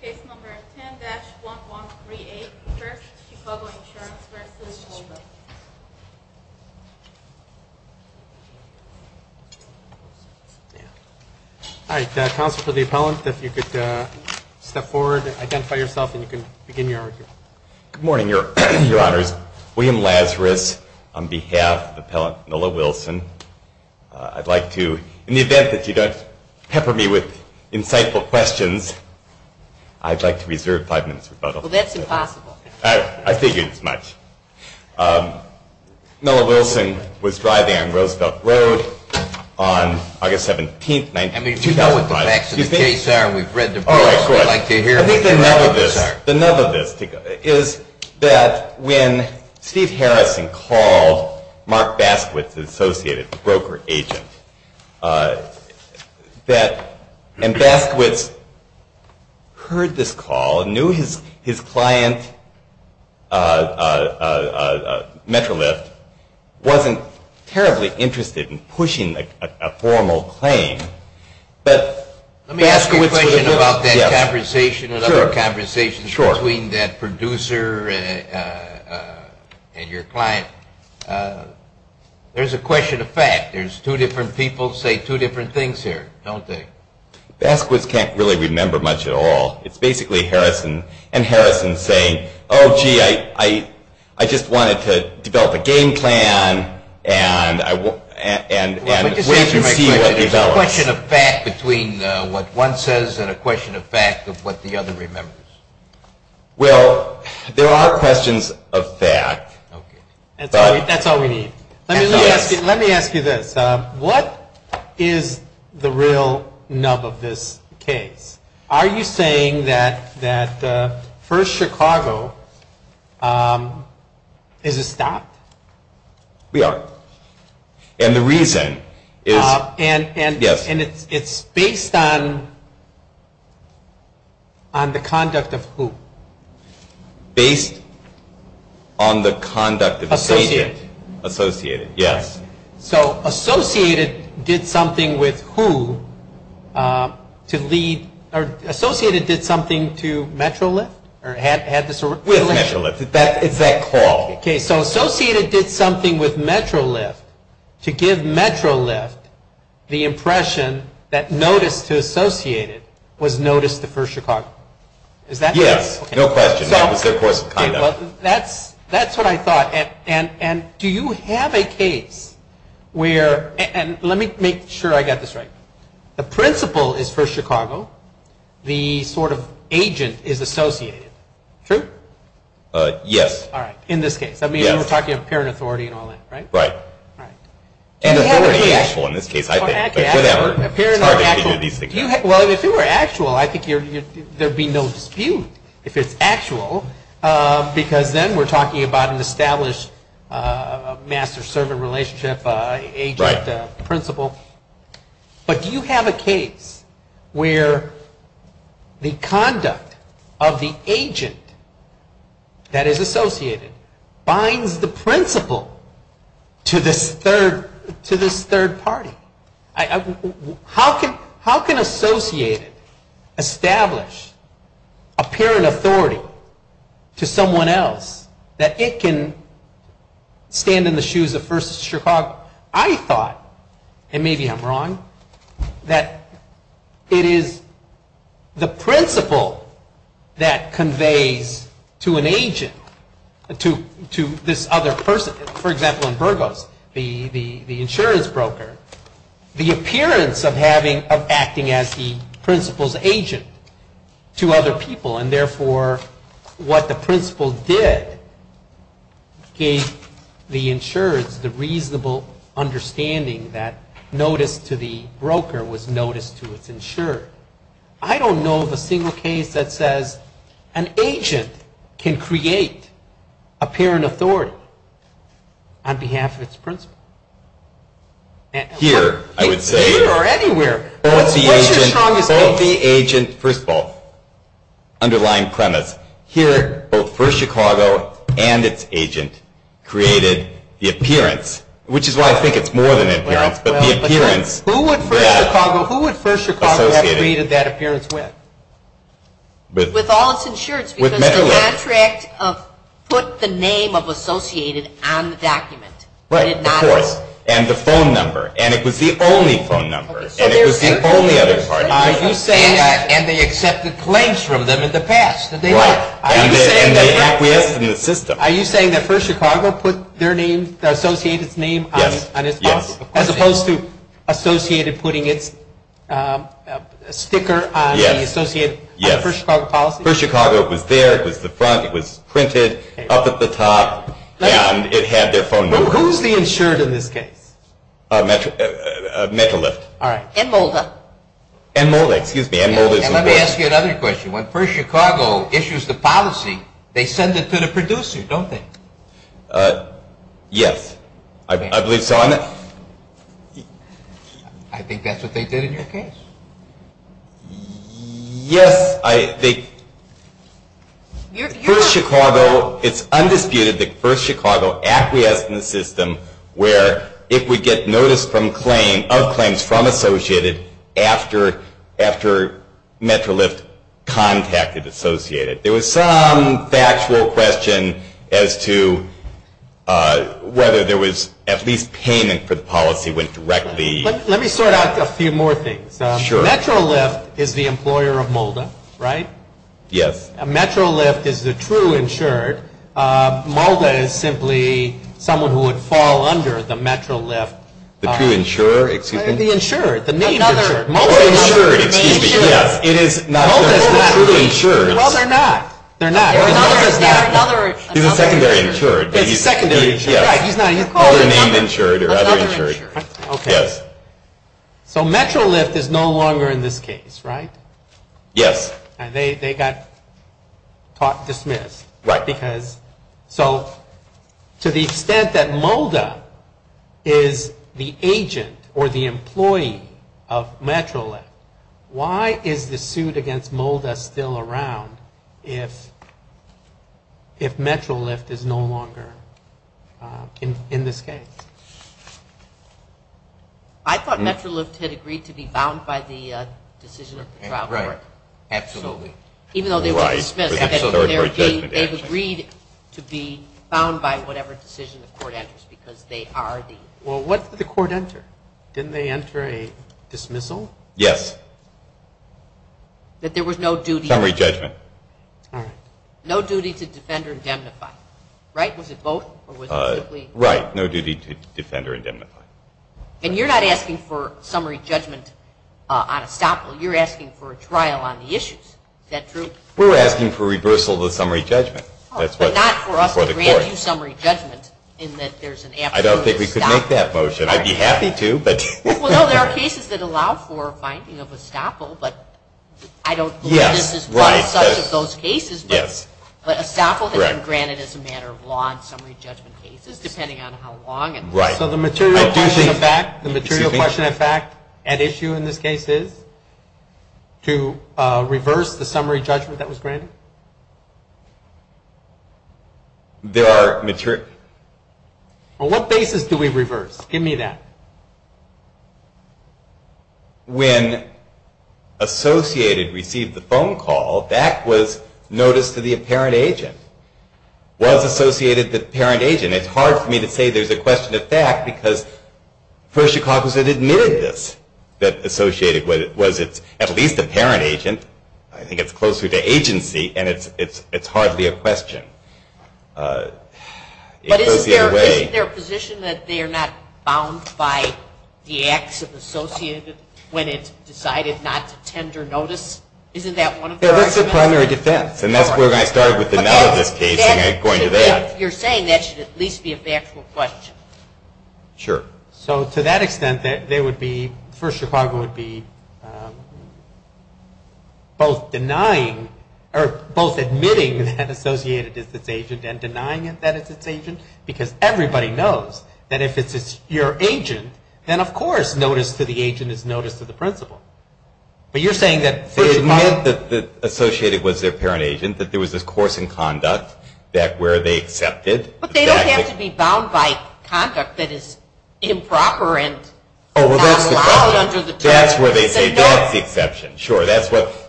Case number 10-1138. First, Chicago Insurance v. Molda. All right. Counsel for the appellant, if you could step forward, identify yourself, and you can begin your argument. Good morning, Your Honors. William Lazarus on behalf of Appellant Noah Wilson. I'd like to, in the event that you don't pepper me with insightful questions, I'd like to reserve five minutes rebuttal. Well, that's impossible. I figured as much. Noah Wilson was driving on Roosevelt Road on August 17, 2005. I mean, do you know what the facts of the case are? We've read the books. I think the nub of this is that when Steve Harrison called Mark Baskowitz, an associated broker agent, and Baskowitz heard this call, knew his client, Metrolift, wasn't terribly interested in pushing a formal claim. Let me ask you a question about that conversation and other conversations between that producer and your client. There's a question of fact. There's two different people saying two different things here, don't they? Baskowitz can't really remember much at all. It's basically Harrison and Harrison saying, Oh, gee, I just wanted to develop a game plan and wait to see what develops. There's a question of fact between what one says and a question of fact of what the other remembers. Well, there are questions of fact. That's all we need. Let me ask you this. What is the real nub of this case? Are you saying that First Chicago is a stop? We are. And the reason is... And it's based on the conduct of who? Based on the conduct of the agent. Associated. Associated, yes. Associated did something with who to lead... Associated did something to Metrolift? With Metrolift. It's that call. Associated did something with Metrolift to give Metrolift the impression that notice to Associated was notice to First Chicago. Yes, no question. That was their course of conduct. That's what I thought. And do you have a case where... And let me make sure I got this right. The principle is First Chicago. The sort of agent is Associated. True? Yes. All right. In this case. I mean, we're talking about apparent authority and all that, right? Right. And authority is actual in this case, I think. Well, if it were actual, I think there'd be no dispute. If it's actual, because then we're talking about an established master-servant relationship, agent principle. But do you have a case where the conduct of the agent that is Associated binds the principle to this third party? How can Associated establish apparent authority to someone else that it can stand in the shoes of First Chicago? I thought, and maybe I'm wrong, that it is the principle that conveys to an agent, to this other person. For example, in Burgos, the insurance broker, the appearance of acting as the principle's agent to other people, and therefore what the principle did gave the insurance the reasonable understanding that notice to the broker was notice to its insurer. I don't know of a single case that says an agent can create apparent authority on behalf of its principle. Here, I would say. Here or anywhere. What's your strongest case? Both the agent, first of all, underlying premise. Here, both First Chicago and its agent created the appearance, which is why I think it's more than appearance, but the appearance. Who would First Chicago have created that appearance with? With all its insurance, because the contract put the name of Associated on the document. Right, of course, and the phone number, and it was the only phone number, and it was the only other party. Are you saying, and they accepted claims from them in the past? Are you saying that First Chicago put their name, Associated's name on its contract? As opposed to Associated putting its sticker on the Associated First Chicago policy? First Chicago was there. It was the front. It was printed up at the top, and it had their phone number. Who's the insured in this case? Metrolift. All right. And Molda. And Molda, excuse me. And Molda is involved. And let me ask you another question. When First Chicago issues the policy, they send it to the producer, don't they? Yes, I believe so. I think that's what they did in your case. Yes, I think First Chicago, it's undisputed that First Chicago acquiesced in the system where it would get notice of claims from Associated after Metrolift contacted Associated. There was some factual question as to whether there was at least payment for the policy went directly. Let me sort out a few more things. Sure. Metrolift is the employer of Molda, right? Yes. Metrolift is the true insured. Molda is simply someone who would fall under the Metrolift. The true insurer, excuse me? The insured, the name insured. Or insured, excuse me. Yes, it is not the true insured. Well, they're not. They're not. They're another insured. He's a secondary insured. He's a secondary insured. Either name insured or other insured. Another insured. Okay. Yes. So Metrolift is no longer in this case, right? Yes. And they got dismissed. Right. Because so to the extent that Molda is the agent or the employee of Metrolift, why is the suit against Molda still around if Metrolift is no longer in this case? I thought Metrolift had agreed to be bound by the decision of the trial court. Right. Absolutely. Even though they were dismissed. Right. They've agreed to be bound by whatever decision the court enters because they are the. Well, what did the court enter? Didn't they enter a dismissal? Yes. That there was no duty. Summary judgment. All right. No duty to defend or indemnify. Right? Was it both? Right. No duty to defend or indemnify. And you're not asking for summary judgment on estoppel. You're asking for a trial on the issues. Is that true? We're asking for reversal of the summary judgment. Oh, but not for us to grant you summary judgment in that there's an absolute estoppel. I don't think we could make that motion. I'd be happy to, but. Well, no, there are cases that allow for finding of estoppel. But I don't believe this is one such of those cases. But estoppel has been granted as a matter of law in summary judgment cases, depending on how long it lasts. So the material question of fact at issue in this case is to reverse the summary judgment that was granted? There are. On what basis do we reverse? Give me that. When associated received the phone call, that was notice to the apparent agent. Was associated to the apparent agent. It's hard for me to say there's a question of fact because First Chicago State admitted this, that associated was at least apparent agent. I think it's closer to agency, and it's hardly a question. But isn't there a position that they are not bound by? The acts of associated when it decided not to tender notice? Isn't that one of the arguments? That's the primary defense. And that's where I started with the null of this case and going to that. You're saying that should at least be a factual question. Sure. So to that extent, there would be, First Chicago would be both denying, or both admitting that associated is its agent and denying it that it's its agent, because everybody knows that if it's your agent, then of course notice to the agent is notice to the principal. But you're saying that First Chicago. They admit that associated was their apparent agent, that there was a course in conduct where they accepted. But they don't have to be bound by conduct that is improper and not allowed under the terms. That's where they say that's the exception. Sure.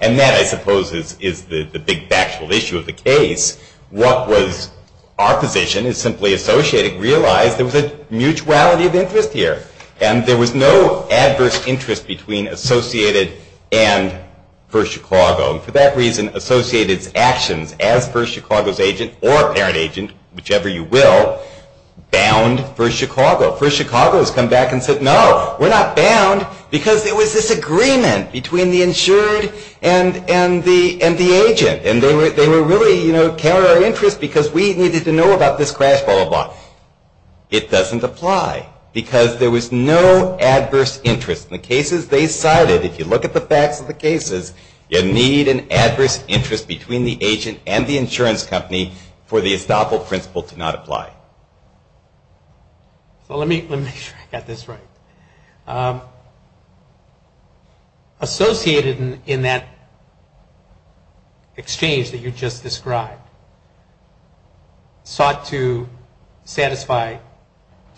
And that, I suppose, is the big factual issue of the case. What was our position is simply associated realized there was a mutuality of interest here. And there was no adverse interest between associated and First Chicago. And for that reason, associated's actions as First Chicago's agent or apparent agent, whichever you will, bound First Chicago. First Chicago has come back and said, no, we're not bound, because there was this agreement between the insured and the agent. And they were really carrying our interest because we needed to know about this crash, blah, blah, blah. It doesn't apply, because there was no adverse interest. In the cases they cited, if you look at the facts of the cases, you need an adverse interest between the agent and the insurance company for the estoppel principle to not apply. So let me make sure I got this right. Associated, in that exchange that you just described, sought to satisfy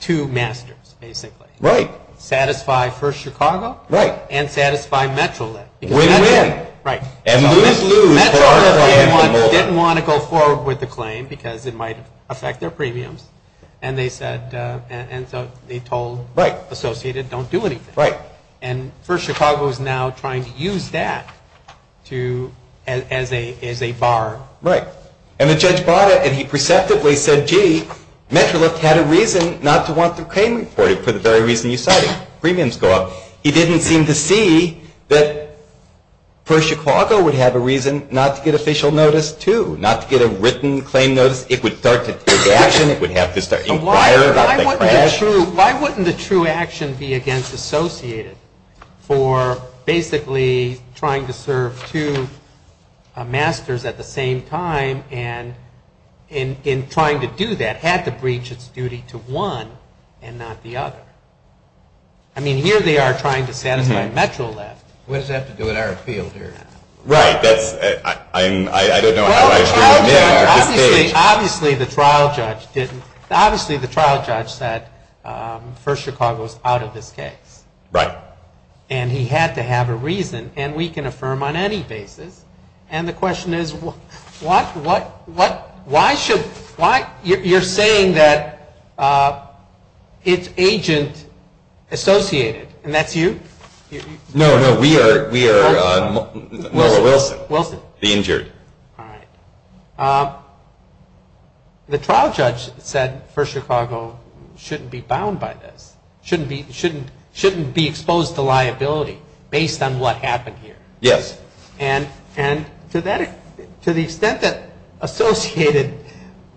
two masters, basically. Right. Satisfy First Chicago. Right. And satisfy METROLIT. Win-win. Right. And lose-lose. METROLIT didn't want to go forward with the claim because it might affect their premiums. And so they told Associated, don't do anything. Right. And First Chicago is now trying to use that as a bar. Right. And the judge bought it, and he perceptively said, gee, METROLIT had a reason not to want the claim reported for the very reason you cited. Premiums go up. He didn't seem to see that First Chicago would have a reason not to get official notice, too, not to get a written claim notice. Because it would start to take action. It would have to start inquiring about the crash. Why wouldn't the true action be against Associated for basically trying to serve two masters at the same time and in trying to do that, had to breach its duty to one and not the other? I mean, here they are trying to satisfy METROLIT. What does that have to do with our field here? Right. I don't know how I should have been at this stage. Obviously, the trial judge said First Chicago is out of this case. Right. And he had to have a reason. And we can affirm on any basis. And the question is, you're saying that it's Agent Associated, and that's you? No, no, we are Noah Wilson, the injured. All right. The trial judge said First Chicago shouldn't be bound by this, shouldn't be exposed to liability based on what happened here. Yes. And to the extent that Associated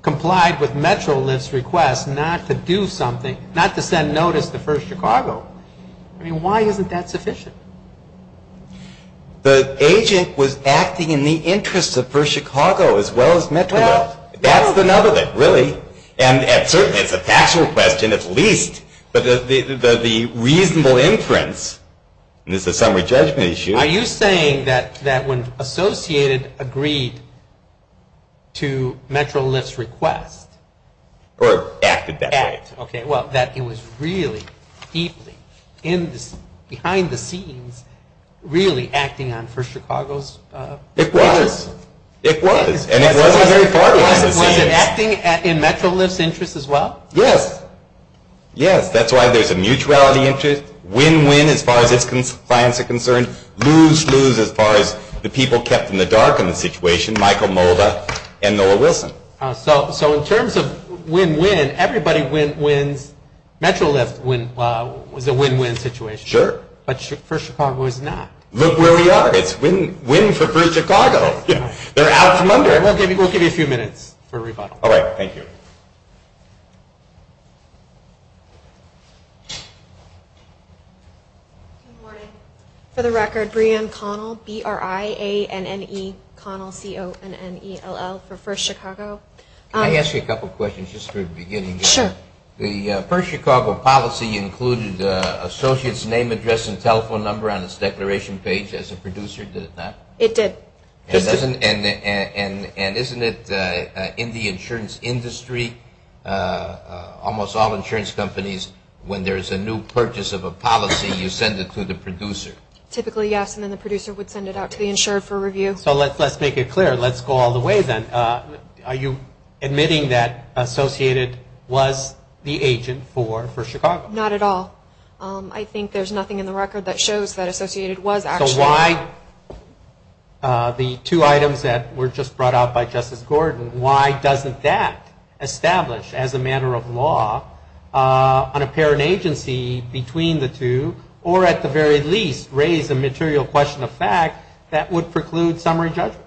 complied with METROLIT's request not to do something, not to send notice to First Chicago, I mean, why isn't that sufficient? The agent was acting in the interest of First Chicago as well as METROLIT. That's the nub of it, really. And certainly it's a factual question at least, but the reasonable inference, and this is a summary judgment issue. Are you saying that when Associated agreed to METROLIT's request? Or acted that way. Well, that it was really deeply behind the scenes really acting on First Chicago's interests? It was. It was. And it wasn't very far behind the scenes. Was it acting in METROLIT's interests as well? Yes. Yes. That's why there's a mutuality interest, win-win as far as its clients are concerned, lose-lose as far as the people kept in the dark on the situation, Michael Molda and Noah Wilson. So in terms of win-win, everybody wins. METROLIT was a win-win situation. Sure. But First Chicago is not. Look where we are. It's win for First Chicago. They're out from under. We'll give you a few minutes for rebuttal. All right. Thank you. Good morning. For the record, Brianne Connell, B-R-I-A-N-N-E, Connell, C-O-N-N-E-L-L for First Chicago. Can I ask you a couple questions just for the beginning? Sure. The First Chicago policy included associates' name, address, and telephone number on its declaration page. As a producer, did it not? It did. And isn't it in the insurance industry, almost all insurance companies, when there's a new purchase of a policy, you send it to the producer? Typically, yes, and then the producer would send it out to the insured for review. So let's make it clear. Let's go all the way then. Are you admitting that Associated was the agent for First Chicago? Not at all. I think there's nothing in the record that shows that Associated was actually. So why the two items that were just brought out by Justice Gordon, why doesn't that establish as a matter of law an apparent agency between the two, or at the very least raise a material question of fact that would preclude summary judgment?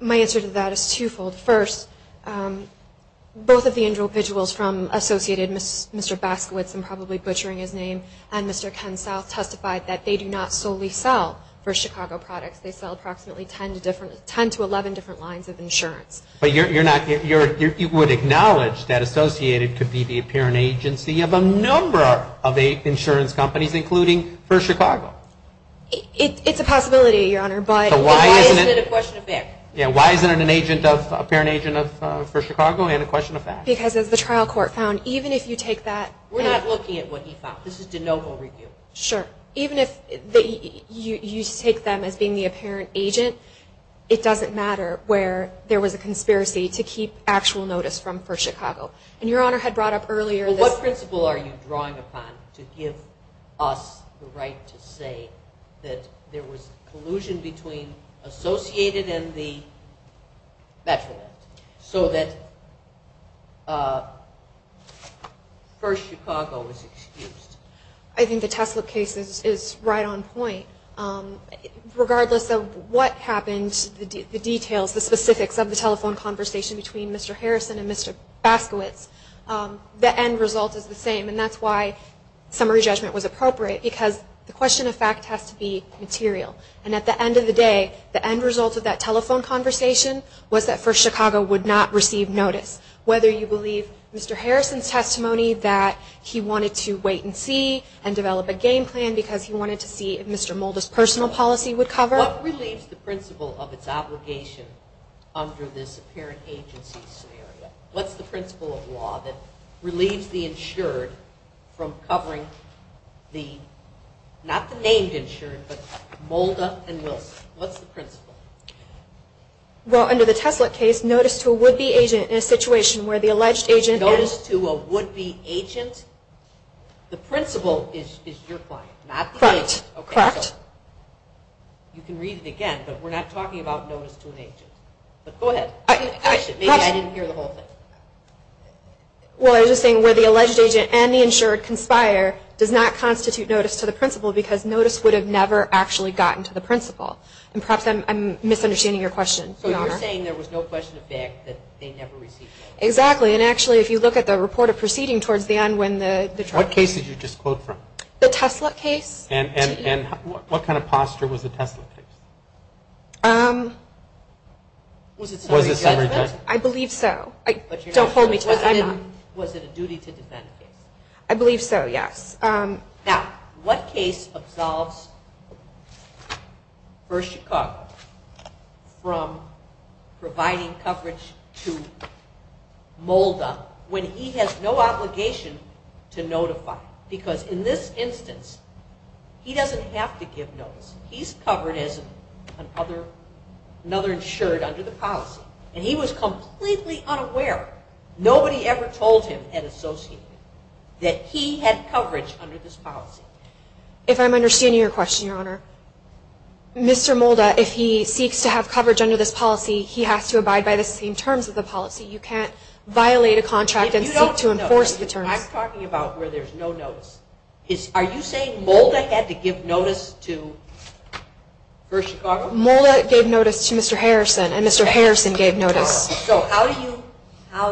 My answer to that is twofold. First, both of the individuals from Associated, Mr. Baskowitz, I'm probably butchering his name, and Mr. Ken South, testified that they do not solely sell First Chicago products. They sell approximately 10 to 11 different lines of insurance. But you would acknowledge that Associated could be the apparent agency of a number of insurance companies, including First Chicago? It's a possibility, Your Honor. So why isn't it a question of fact? Yeah, why isn't it an apparent agent of First Chicago and a question of fact? Because as the trial court found, even if you take that. We're not looking at what he found. This is de novo review. Sure. Even if you take them as being the apparent agent, it doesn't matter where there was a conspiracy to keep actual notice from First Chicago. And Your Honor had brought up earlier this. Well, what principle are you drawing upon to give us the right to say that there was collusion between Associated and the Bachelorette so that First Chicago was excused? I think the Tesla case is right on point. Regardless of what happened, the details, the specifics of the telephone conversation between Mr. Harrison and Mr. Baskowitz, the end result is the same. And that's why summary judgment was appropriate because the question of fact has to be material. And at the end of the day, the end result of that telephone conversation was that First Chicago would not receive notice. Whether you believe Mr. Harrison's testimony that he wanted to wait and see and develop a game plan because he wanted to see if Mr. Molda's personal policy would cover. What relieves the principle of its obligation under this apparent agency scenario? What's the principle of law that relieves the insured from covering the, not the named insured, but Molda and Wilson? What's the principle? Well, under the Tesla case, notice to a would-be agent in a situation where the alleged agent... Notice to a would-be agent? The principle is your client, not the agent. Correct. You can read it again, but we're not talking about notice to an agent. Go ahead. Actually, maybe I didn't hear the whole thing. Well, I was just saying where the alleged agent and the insured conspire because notice would have never actually gotten to the principal. And perhaps I'm misunderstanding your question, Your Honor. So you're saying there was no question of fact that they never received notice? Exactly. And actually, if you look at the report of proceeding towards the end when the... What case did you just quote from? The Tesla case. And what kind of posture was the Tesla case? Was it summary judgment? I believe so. Don't hold me to that. Was it a duty to defend the case? I believe so, yes. Now, what case absolves Burr Chicago from providing coverage to Molda when he has no obligation to notify? Because in this instance, he doesn't have to give notice. He's covered as another insured under the policy. And he was completely unaware. Nobody ever told him at Associated that he had coverage under this policy. If I'm understanding your question, Your Honor, Mr. Molda, if he seeks to have coverage under this policy, he has to abide by the same terms of the policy. You can't violate a contract and seek to enforce the terms. I'm talking about where there's no notice. Are you saying Molda had to give notice to Burr Chicago? Molda gave notice to Mr. Harrison, and Mr. Harrison gave notice. So how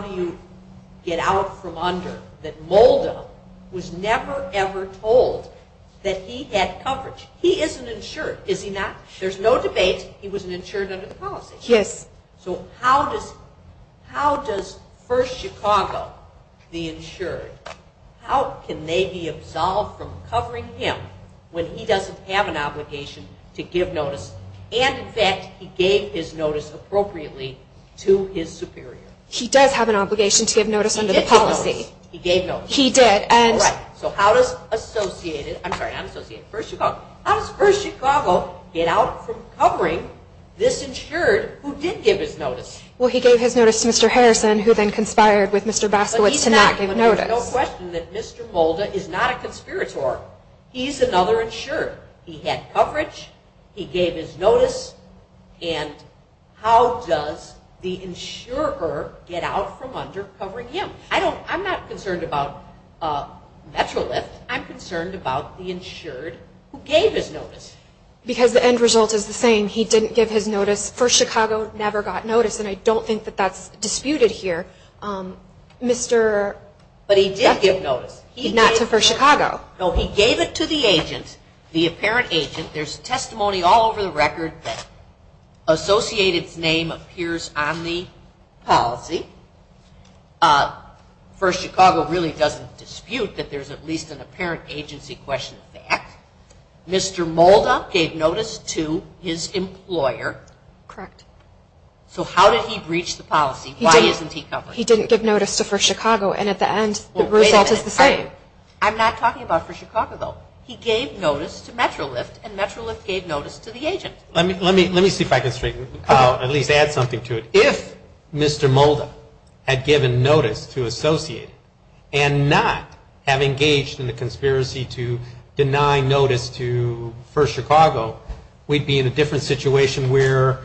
do you get out from under that Molda was never ever told that he had coverage? He is an insured, is he not? There's no debate he was an insured under the policy. Yes. So how does Burr Chicago, the insured, how can they be absolved from covering him when he doesn't have an obligation to give notice? And, in fact, he gave his notice appropriately to his superior. He does have an obligation to give notice under the policy. He did give notice. He gave notice. He did. All right. So how does Associated, I'm sorry, I'm Associated, Burr Chicago, how does Burr Chicago get out from covering this insured who did give his notice? Well, he gave his notice to Mr. Harrison, who then conspired with Mr. Baskowitz to not give notice. There's no question that Mr. Molda is not a conspirator. He's another insured. He had coverage, he gave his notice, and how does the insurer get out from under covering him? I'm not concerned about MetroLift. I'm concerned about the insured who gave his notice. Because the end result is the same. He didn't give his notice. Burr Chicago never got notice, and I don't think that that's disputed here. But he did give notice. Not to Burr Chicago. No, he gave it to the agent. The apparent agent. There's testimony all over the record that Associated's name appears on the policy. Burr Chicago really doesn't dispute that there's at least an apparent agency question of fact. Mr. Molda gave notice to his employer. Correct. So how did he breach the policy? Why isn't he covered? He didn't give notice to Burr Chicago, and at the end the result is the same. I'm not talking about Burr Chicago, though. He gave notice to MetroLift, and MetroLift gave notice to the agent. Let me see if I can at least add something to it. If Mr. Molda had given notice to Associated and not have engaged in the conspiracy to deny notice to Burr Chicago, we'd be in a different situation where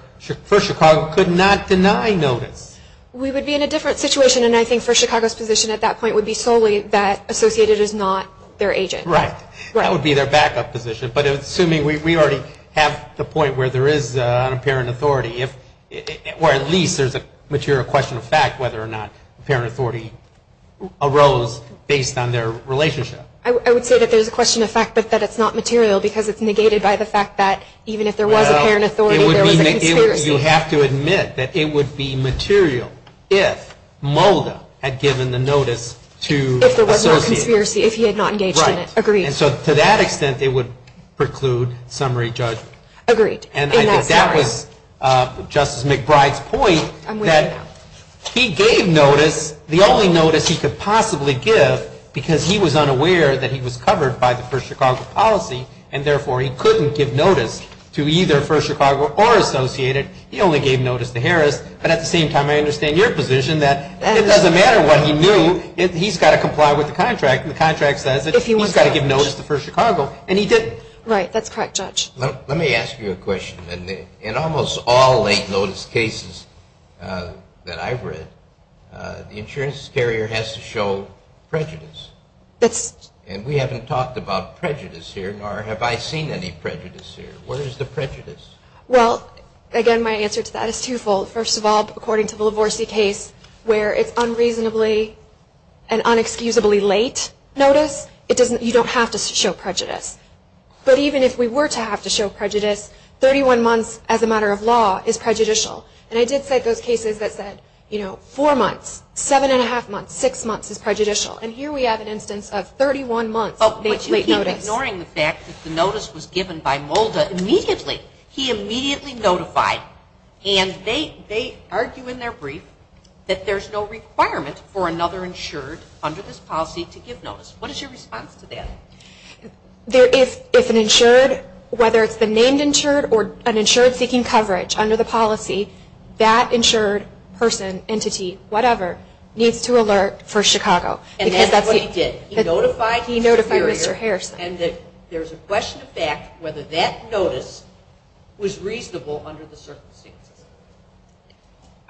Burr Chicago could not deny notice. We would be in a different situation, and I think Burr Chicago's position at that point would be solely that Associated is not their agent. Right. That would be their backup position. But assuming we already have the point where there is an apparent authority, or at least there's a material question of fact whether or not apparent authority arose based on their relationship. I would say that there's a question of fact but that it's not material because it's negated by the fact that even if there was apparent authority, there was a conspiracy. You have to admit that it would be material if Molda had given the notice to Associated. If there was no conspiracy, if he had not engaged in it. Right. Agreed. And so to that extent, it would preclude summary judgment. Agreed. And I think that was Justice McBride's point that he gave notice, the only notice he could possibly give because he was unaware that he was covered by the Burr Chicago policy, and therefore he couldn't give notice to either Burr Chicago or Associated. He only gave notice to Harris. But at the same time, I understand your position that it doesn't matter what he knew. He's got to comply with the contract, and the contract says that he's got to give notice to Burr Chicago, and he didn't. Right. That's correct, Judge. Let me ask you a question. In almost all late notice cases that I've read, the insurance carrier has to show prejudice. And we haven't talked about prejudice here, nor have I seen any prejudice here. What is the prejudice? Well, again, my answer to that is twofold. First of all, according to the Livorsi case where it's unreasonably and inexcusably late notice, you don't have to show prejudice. But even if we were to have to show prejudice, 31 months as a matter of law is prejudicial. And I did cite those cases that said, you know, four months, seven and a half months, six months is prejudicial. And here we have an instance of 31 months of late notice. But you keep ignoring the fact that the notice was given by Molda immediately. He immediately notified. And they argue in their brief that there's no requirement for another insured under this policy to give notice. What is your response to that? If an insured, whether it's the named insured or an insured seeking coverage under the policy, that insured person, entity, whatever, needs to alert for Chicago. And that's what he did. He notified Mr. Harrison. And that there's a question of fact whether that notice was reasonable under the circumstances.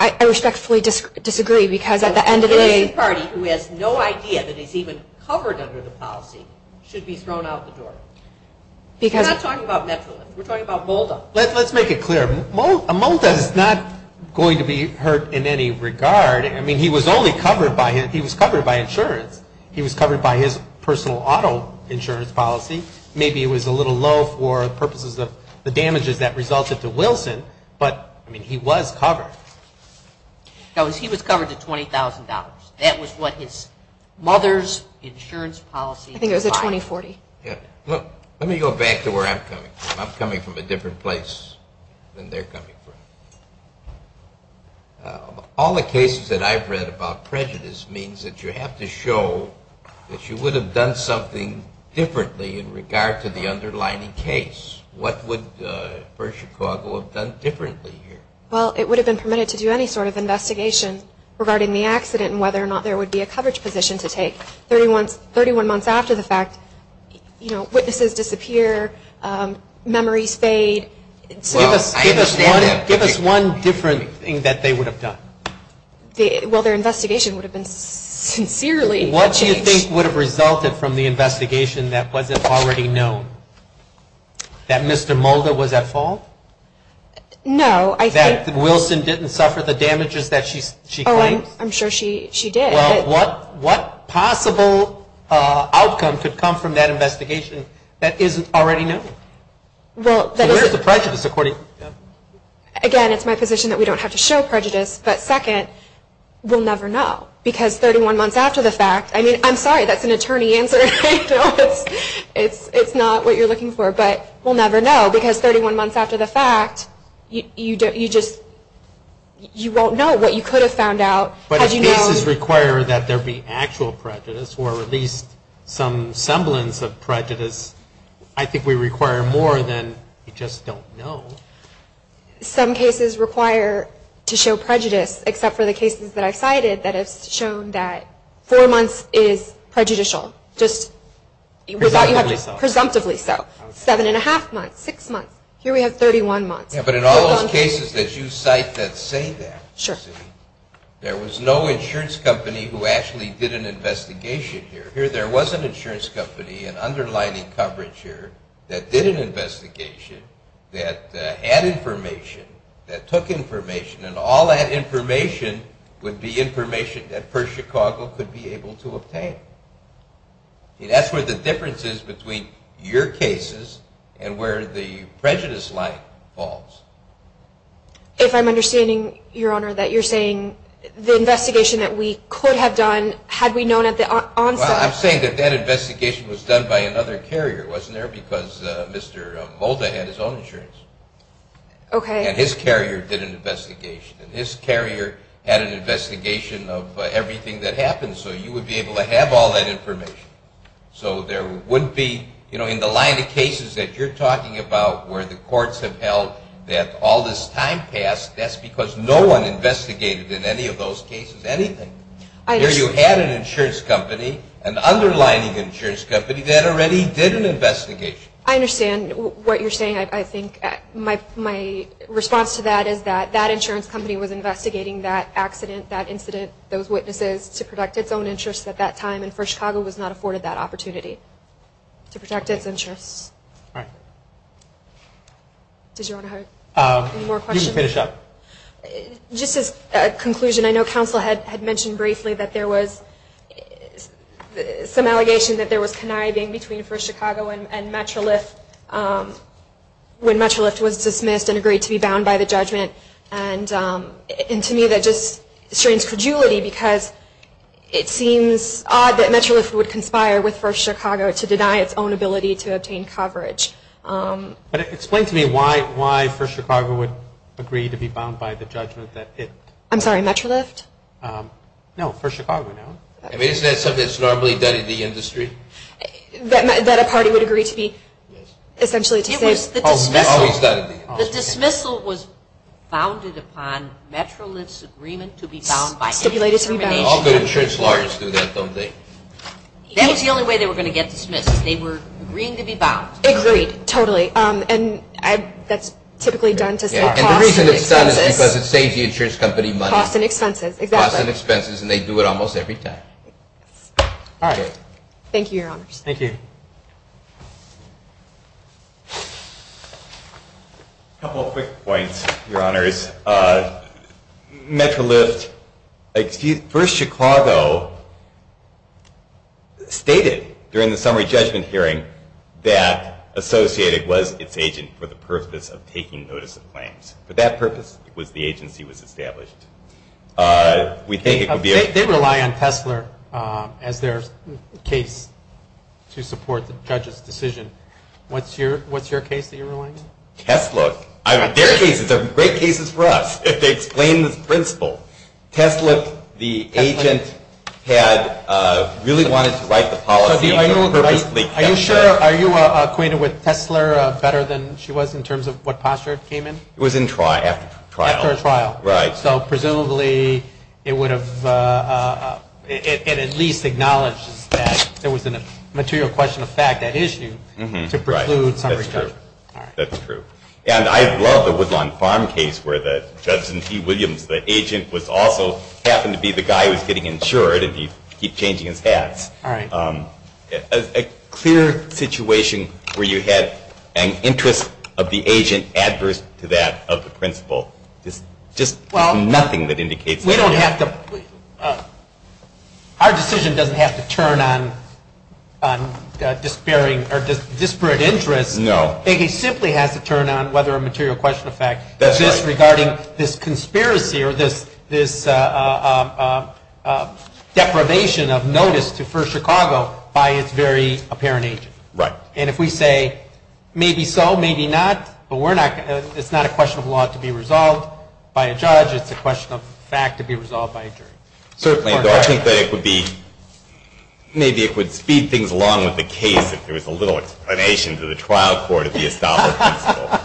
I respectfully disagree because at the end of the day. It is the party who has no idea that he's even covered under the policy should be thrown out the door. We're not talking about Metrolinx. We're talking about Molda. Let's make it clear. Molda is not going to be hurt in any regard. I mean, he was only covered by his, he was covered by insurance. He was covered by his personal auto insurance policy. Maybe it was a little low for purposes of the damages that resulted to Wilson. But, I mean, he was covered. He was covered to $20,000. That was what his mother's insurance policy was. I think it was a 2040. Let me go back to where I'm coming from. I'm coming from a different place than they're coming from. All the cases that I've read about prejudice means that you have to show that you would have done something differently in regard to the underlining case. What would First Chicago have done differently here? Well, it would have been permitted to do any sort of investigation regarding the accident and whether or not there would be a coverage position to take 31 months after the fact. You know, witnesses disappear. Memories fade. Well, I understand that. Give us one different thing that they would have done. Well, their investigation would have been sincerely changed. What do you think would have resulted from the investigation that wasn't already known? That Mr. Mulder was at fault? No. That Wilson didn't suffer the damages that she claims? Oh, I'm sure she did. Well, what possible outcome could come from that investigation that isn't already known? So where's the prejudice? Again, it's my position that we don't have to show prejudice, but second, we'll never know. Because 31 months after the fact, I mean, I'm sorry, that's an attorney answer. It's not what you're looking for, but we'll never know. Because 31 months after the fact, you won't know what you could have found out. But if cases require that there be actual prejudice or at least some semblance of prejudice, I think we require more than you just don't know. Some cases require to show prejudice, except for the cases that I've cited that have shown that four months is prejudicial. Just presumptively so. Seven and a half months, six months. Here we have 31 months. But in all those cases that you cite that say that, there was no insurance company who actually did an investigation here. Here there was an insurance company, an underlining coverage here, that did an investigation, that had information, that took information, and all that information would be information that PERS Chicago could be able to obtain. That's where the difference is between your cases and where the prejudice line falls. If I'm understanding, Your Honor, that you're saying the investigation that we could have done, Well, I'm saying that that investigation was done by another carrier, wasn't there? Because Mr. Molda had his own insurance. And his carrier did an investigation. And his carrier had an investigation of everything that happened. So you would be able to have all that information. So there wouldn't be, you know, in the line of cases that you're talking about where the courts have held that all this time passed, that's because no one investigated in any of those cases anything. Here you had an insurance company, an underlining insurance company, that already did an investigation. I understand what you're saying. I think my response to that is that that insurance company was investigating that accident, that incident, those witnesses, to protect its own interests at that time. And PERS Chicago was not afforded that opportunity to protect its interests. All right. Does Your Honor have any more questions? You can finish up. Just as a conclusion, I know counsel had mentioned briefly that there was some allegation that there was conniving between PERS Chicago and MetroLift when MetroLift was dismissed and agreed to be bound by the judgment. And to me that just strains credulity because it seems odd that MetroLift would conspire with PERS Chicago to deny its own ability to obtain coverage. But explain to me why PERS Chicago would agree to be bound by the judgment that it I'm sorry, MetroLift? No, PERS Chicago, no. Isn't that something that's normally done in the industry? That a party would agree to be essentially dismissed? It was always done in the industry. The dismissal was founded upon MetroLift's agreement to be bound by stipulated to be bound. All good insurance lawyers do that, don't they? That was the only way they were going to get dismissed. They were agreeing to be bound. Agreed. Totally. And that's typically done to save costs and expenses. And the reason it's done is because it saves the insurance company money. Costs and expenses. Exactly. Costs and expenses, and they do it almost every time. All right. Thank you, Your Honors. Thank you. A couple quick points, Your Honors. MetroLift, excuse me, PERS Chicago stated during the summary judgment hearing that Associated was its agent for the purpose of taking notice of claims. For that purpose, the agency was established. They rely on Tesler as their case to support the judge's decision. What's your case that you're relying on? Tesler. Their cases are great cases for us if they explain this principle. Tesler, the agent, had really wanted to write the policy. Are you sure? Are you acquainted with Tesler better than she was in terms of what posture it came in? It was in trial, after trial. After a trial. Right. So presumably it would have at least acknowledged that there was a material question of fact at issue to preclude summary judgment. That's true. And I love the Woodlawn Farm case where Judge T. Williams, the agent, also happened to be the guy who was getting insured and he'd keep changing his hats. All right. A clear situation where you had an interest of the agent adverse to that of the principal. Just nothing that indicates that. We don't have to – our decision doesn't have to turn on disparate interests. No. It simply has to turn on whether a material question of fact exists regarding this conspiracy or this deprivation of notice for Chicago by its very apparent agent. Right. And if we say maybe so, maybe not, it's not a question of law to be resolved by a judge. It's a question of fact to be resolved by a jury. Certainly. I think that it would be – maybe it would speed things along with the case if there was a little explanation to the trial court of the established principal.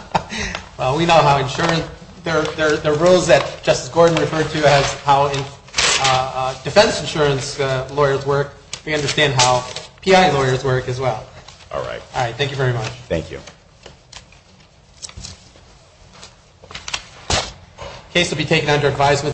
Well, we know how insurance – there are rules that Justice Gordon referred to as how defense insurance lawyers work. We understand how PI lawyers work as well. All right. All right. Thank you very much. Thank you. The case will be taken under advisement.